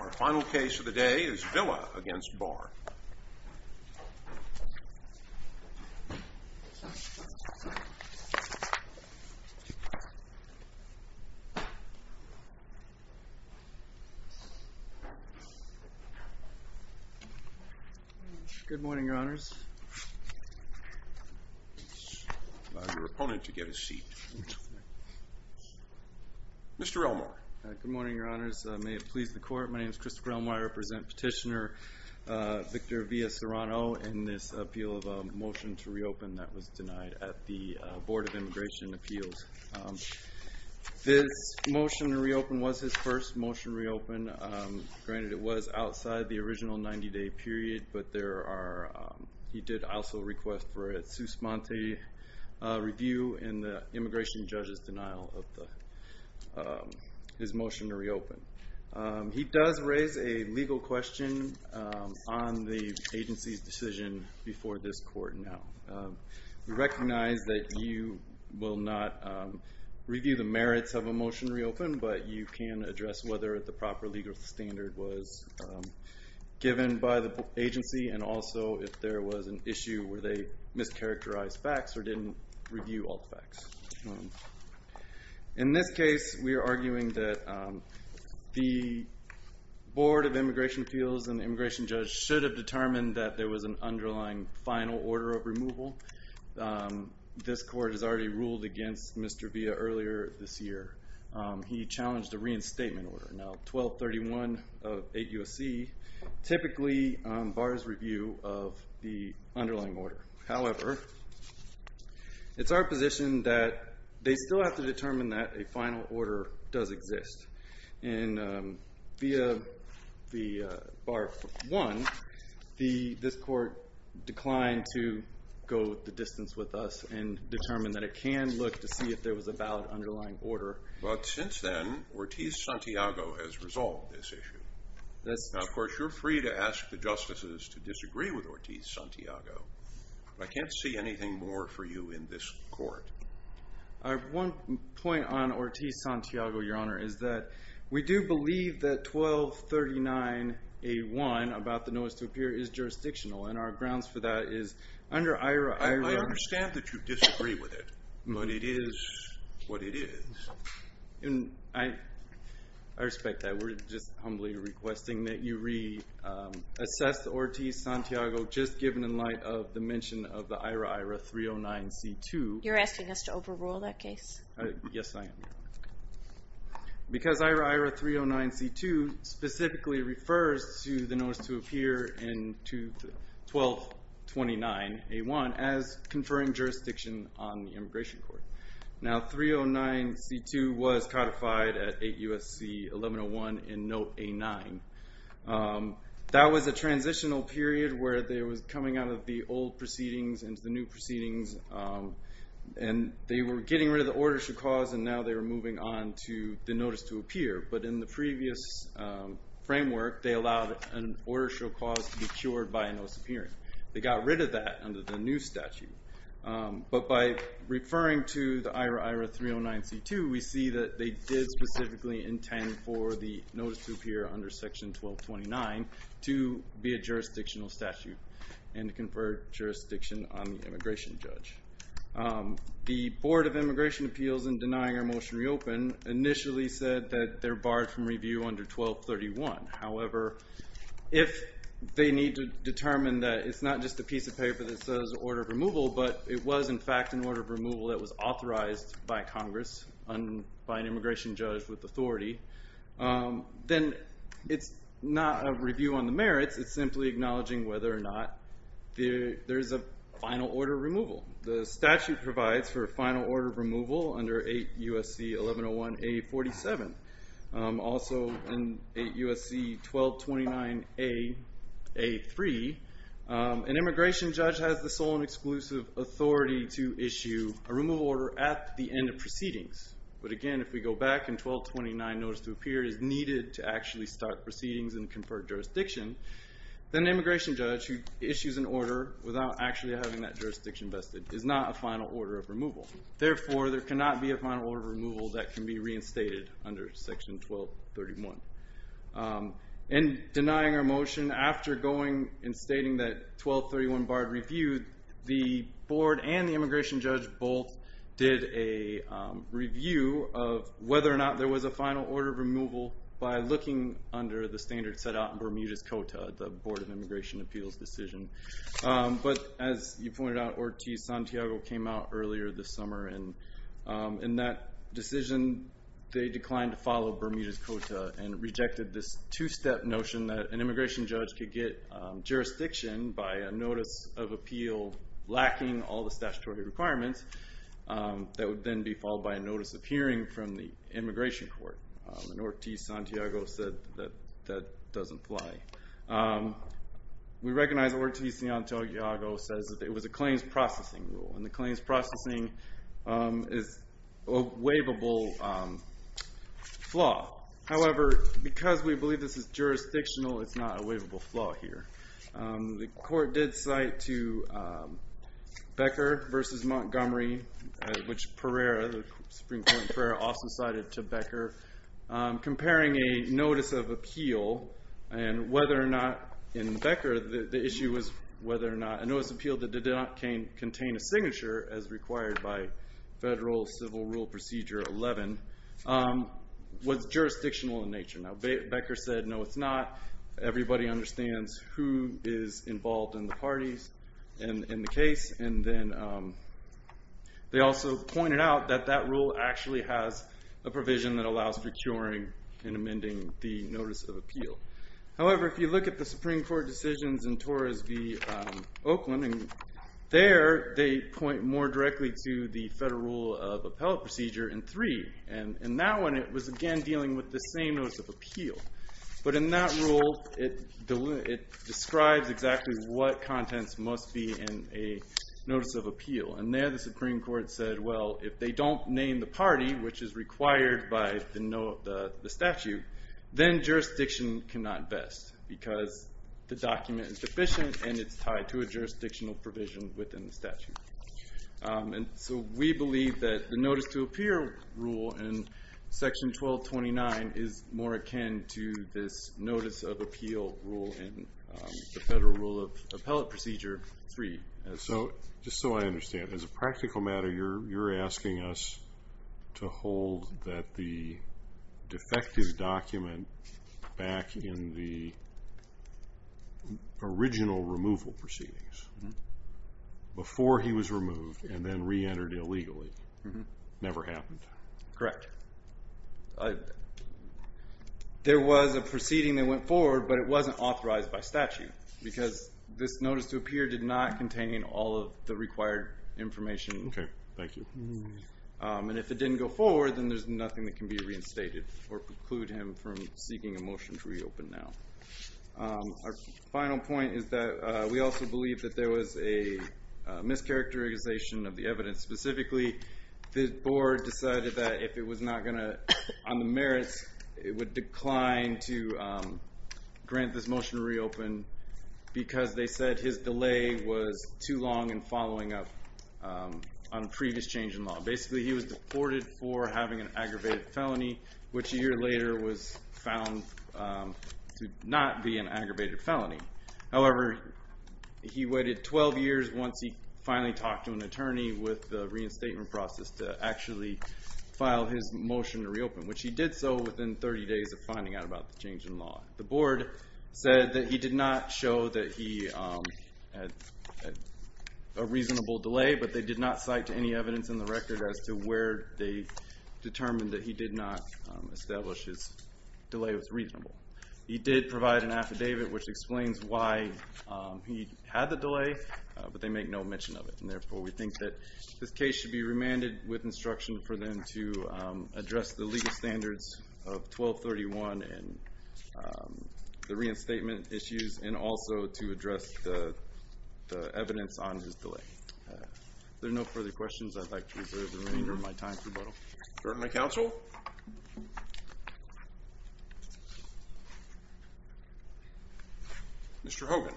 Our final case of the day is Villa v. Barr. Good morning, Your Honors. Allow your opponent to get a seat. Mr. Elmore. Good morning, Your Honors. May it please the Court, my name is Christopher Elmore. I represent Petitioner Victor Villa Serrano in this appeal of a motion to reopen that was denied at the Board of Immigration Appeals. This motion to reopen was his first motion to reopen. Granted, it was outside the original 90-day period, but he did also request for a Suspente review in the immigration judge's denial of his motion to reopen. He does raise a legal question on the agency's decision before this Court now. We recognize that you will not review the merits of a motion to reopen, but you can address whether the proper legal standard was given by the agency, and also if there was an issue where they mischaracterized facts or didn't review all the facts. In this case, we are arguing that the Board of Immigration Appeals and the immigration judge should have determined that there was an underlying final order of removal. This Court has already ruled against Mr. Villa earlier this year. He challenged a reinstatement order, now 1231 of 8 U.S.C., typically Barr's review of the underlying order. However, it's our position that they still have to determine that a final order does exist. And via the Barr 1, this Court declined to go the distance with us and determine that it can look to see if there was a valid underlying order. But since then, Ortiz-Santiago has resolved this issue. Now, of course, you're free to ask the justices to disagree with Ortiz-Santiago. I can't see anything more for you in this Court. I have one point on Ortiz-Santiago, Your Honor, is that we do believe that 1239A1, about the notice to appear, is jurisdictional. And our grounds for that is, under IRA, IRA- I understand that you disagree with it, but it is what it is. And I respect that. We're just humbly requesting that you reassess Ortiz-Santiago, just given in light of the mention of the IRA-IRA-309C2. You're asking us to overrule that case? Yes, I am, Your Honor, because IRA-IRA-309C2 specifically refers to the notice to appear in 1229A1 as conferring jurisdiction on the immigration court. Now, 309C2 was codified at 8 U.S.C. 1101 in Note A9. That was a transitional period where it was coming out of the old proceedings into the new proceedings. And they were getting rid of the order show cause, and now they were moving on to the notice to appear. But in the previous framework, they allowed an order show cause to be cured by a notice of appearance. They got rid of that under the new statute. But by referring to the IRA-IRA-309C2, we see that they did specifically intend for the notice to appear under Section 1229 to be a jurisdictional statute and to confer jurisdiction on the immigration judge. The Board of Immigration Appeals, in denying our motion reopen, initially said that they're barred from review under 1231. However, if they need to determine that it's not just a piece of paper that says order of removal, but it was, in fact, an order of removal that was authorized by Congress and by an immigration judge with authority, then it's not a review on the merits. It's simply acknowledging whether or not there's a final order of removal. The statute provides for a final order of removal under 8 U.S.C. 1101A47. Also, in 8 U.S.C. 1229A3, an immigration judge has the sole and exclusive authority to issue a removal order at the end of proceedings. But again, if we go back and 1229 notice to appear is needed to actually start proceedings and confer jurisdiction, then an immigration judge who issues an order without actually having that jurisdiction vested is not a final order of removal. Therefore, there cannot be a final order of removal that can be reinstated under section 1231. In denying our motion, after going and stating that 1231 barred review, the board and the immigration judge both did a review of whether or not there was a final order of removal by looking under the standard set out in Bermuda's Cota, the Board of Immigration Appeals decision. But as you pointed out, Ortiz-Santiago came out earlier this summer. And in that decision, they declined to follow Bermuda's Cota and rejected this two-step notion that an immigration judge could get jurisdiction by a notice of appeal lacking all the statutory requirements that would then be followed by a notice of hearing from the immigration court. And Ortiz-Santiago said that that doesn't fly. We recognize that Ortiz-Santiago says that it was a claims processing rule. And the claims processing is a waivable flaw. However, because we believe this is jurisdictional, it's not a waivable flaw here. The court did cite to Becker versus Montgomery, which Pereira, the Supreme Court in Pereira, also cited to Becker, comparing a notice of appeal and whether or not, in Becker, the issue was whether or not a notice of appeal that did not contain a signature as required by Federal Civil Rule Procedure 11 was jurisdictional in nature. Now, Becker said, no, it's not. Everybody understands who is involved in the parties in the case. And then they also pointed out that that rule actually has a provision that allows for curing and amending the notice of appeal. However, if you look at the Supreme Court decisions in Torres v. Oakland, and there they point more directly to the Federal Rule of Appellate Procedure in 3. And in that one, it was, again, dealing with the same notice of appeal. But in that rule, it describes exactly what contents must be in a notice of appeal. And there, the Supreme Court said, well, if they don't name the party, which is required by the statute, then jurisdiction cannot vest, because the document is deficient and it's tied to a jurisdictional provision within the statute. And so we believe that the notice to appear rule in Section 1229 is more akin to this notice of appeal rule in the Federal Rule of Appellate Procedure 3. So just so I understand, as a practical matter, you're asking us to hold that the defective document back in the original removal proceedings. Before he was removed and then re-entered illegally, never happened. Correct. There was a proceeding that went forward, but it wasn't authorized by statute, because this notice to appear did not contain all of the required information. Okay, thank you. And if it didn't go forward, then there's nothing that can be reinstated or preclude him from seeking a motion to reopen now. Our final point is that we also believe that there was a mischaracterization of the evidence. Specifically, the board decided that if it was not going to, on the merits, it would decline to grant this motion to reopen, because they said his delay was too long in following up on previous change in law. Basically, he was deported for having an aggravated felony, which a year later was found to not be an aggravated felony. However, he waited 12 years once he finally talked to an attorney with the reinstatement process to actually file his motion to reopen, which he did so within 30 days of finding out about the change in law. The board said that he did not show that he had a reasonable delay, but they did not cite any evidence in the record as to where they determined that he did not establish his delay was reasonable. He did provide an affidavit, which explains why he had the delay, but they make no mention of it. And therefore, we think that this case should be remanded with instruction for them to address the legal standards of 1231 and the reinstatement issues, and also to address the evidence on his delay. If there are no further questions, I'd like to reserve the remainder of my time for rebuttal. Court may counsel. Mr. Hogan.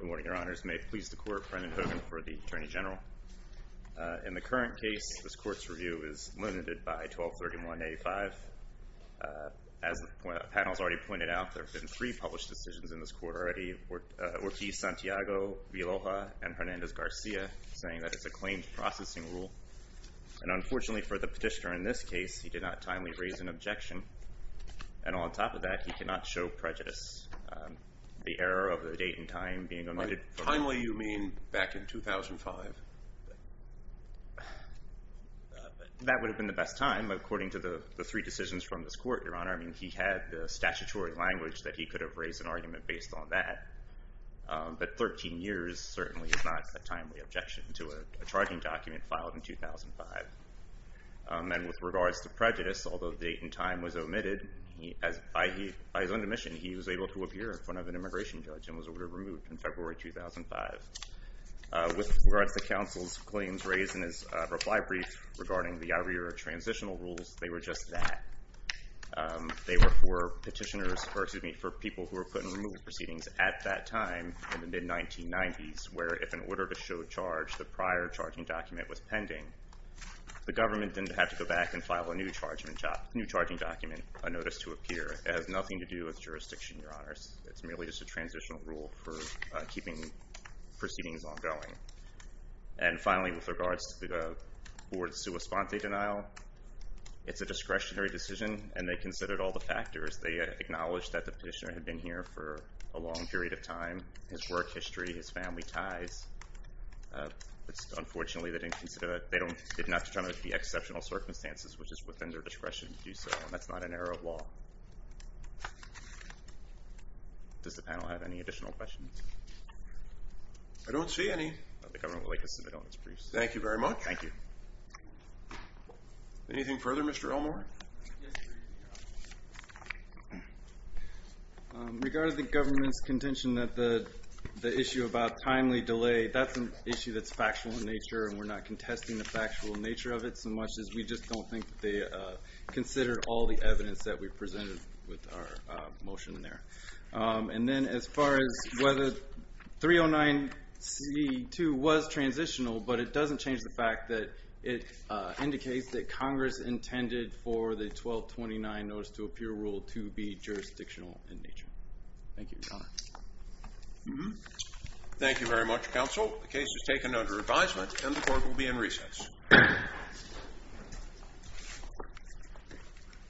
Good morning, Your Honors. May it please the court, Brendan Hogan for the attorney general. In the current case, this court's review is limited by 1231-85. As the panel has already pointed out, there have been three published decisions in this court already. Ortiz-Santiago, Vilhoja, and Hernandez-Garcia, saying that it's a claims processing rule. And unfortunately for the petitioner in this case, he did not timely raise an objection. And on top of that, he could not show prejudice. The error of the date and time being omitted. Timely, you mean back in 2005? That would have been the best time, according to the three decisions from this court, Your Honor. He had the statutory language that he could have raised an argument based on that. But 13 years certainly is not a timely objection to a charging document filed in 2005. And with regards to prejudice, although the date and time was omitted, by his own admission, he was able to appear in front of an immigration judge and was ordered removed in February 2005. With regards to counsel's claims raised in his reply brief regarding the IREA transitional rules, they were just that. They were for people who were put in removal proceedings at that time, in the mid-1990s, where if an order to show charge the prior charging document was pending, the government didn't have to go back and file a new charging document, a notice to appear. It has nothing to do with jurisdiction, Your Honors. It's merely just a transitional rule for keeping proceedings ongoing. And finally, with regards to the board's sua sponte denial, it's a discretionary decision, and they considered all the factors. They acknowledged that the petitioner had been here for a long period of time, his work history, his family ties. It's unfortunately that they did not determine the exceptional circumstances, which is within their discretion to do so, and that's not an error of law. Does the panel have any additional questions? I don't see any. The government would like to submit all its briefs. Thank you very much. Thank you. Anything further, Mr. Elmore? Regarding the government's contention that the issue about timely delay, that's an issue that's factual in nature, and we're not contesting the factual nature of it so much as we just don't think they considered all the evidence that we presented with our motion in there. And then as far as whether 309C2 was transitional, but it doesn't change the fact that it indicates that Congress intended for the 1229 Notice to Appeal Rule to be jurisdictional in nature. Thank you, Your Honor. Thank you very much, counsel. The case is taken under advisement, and the court will be in recess.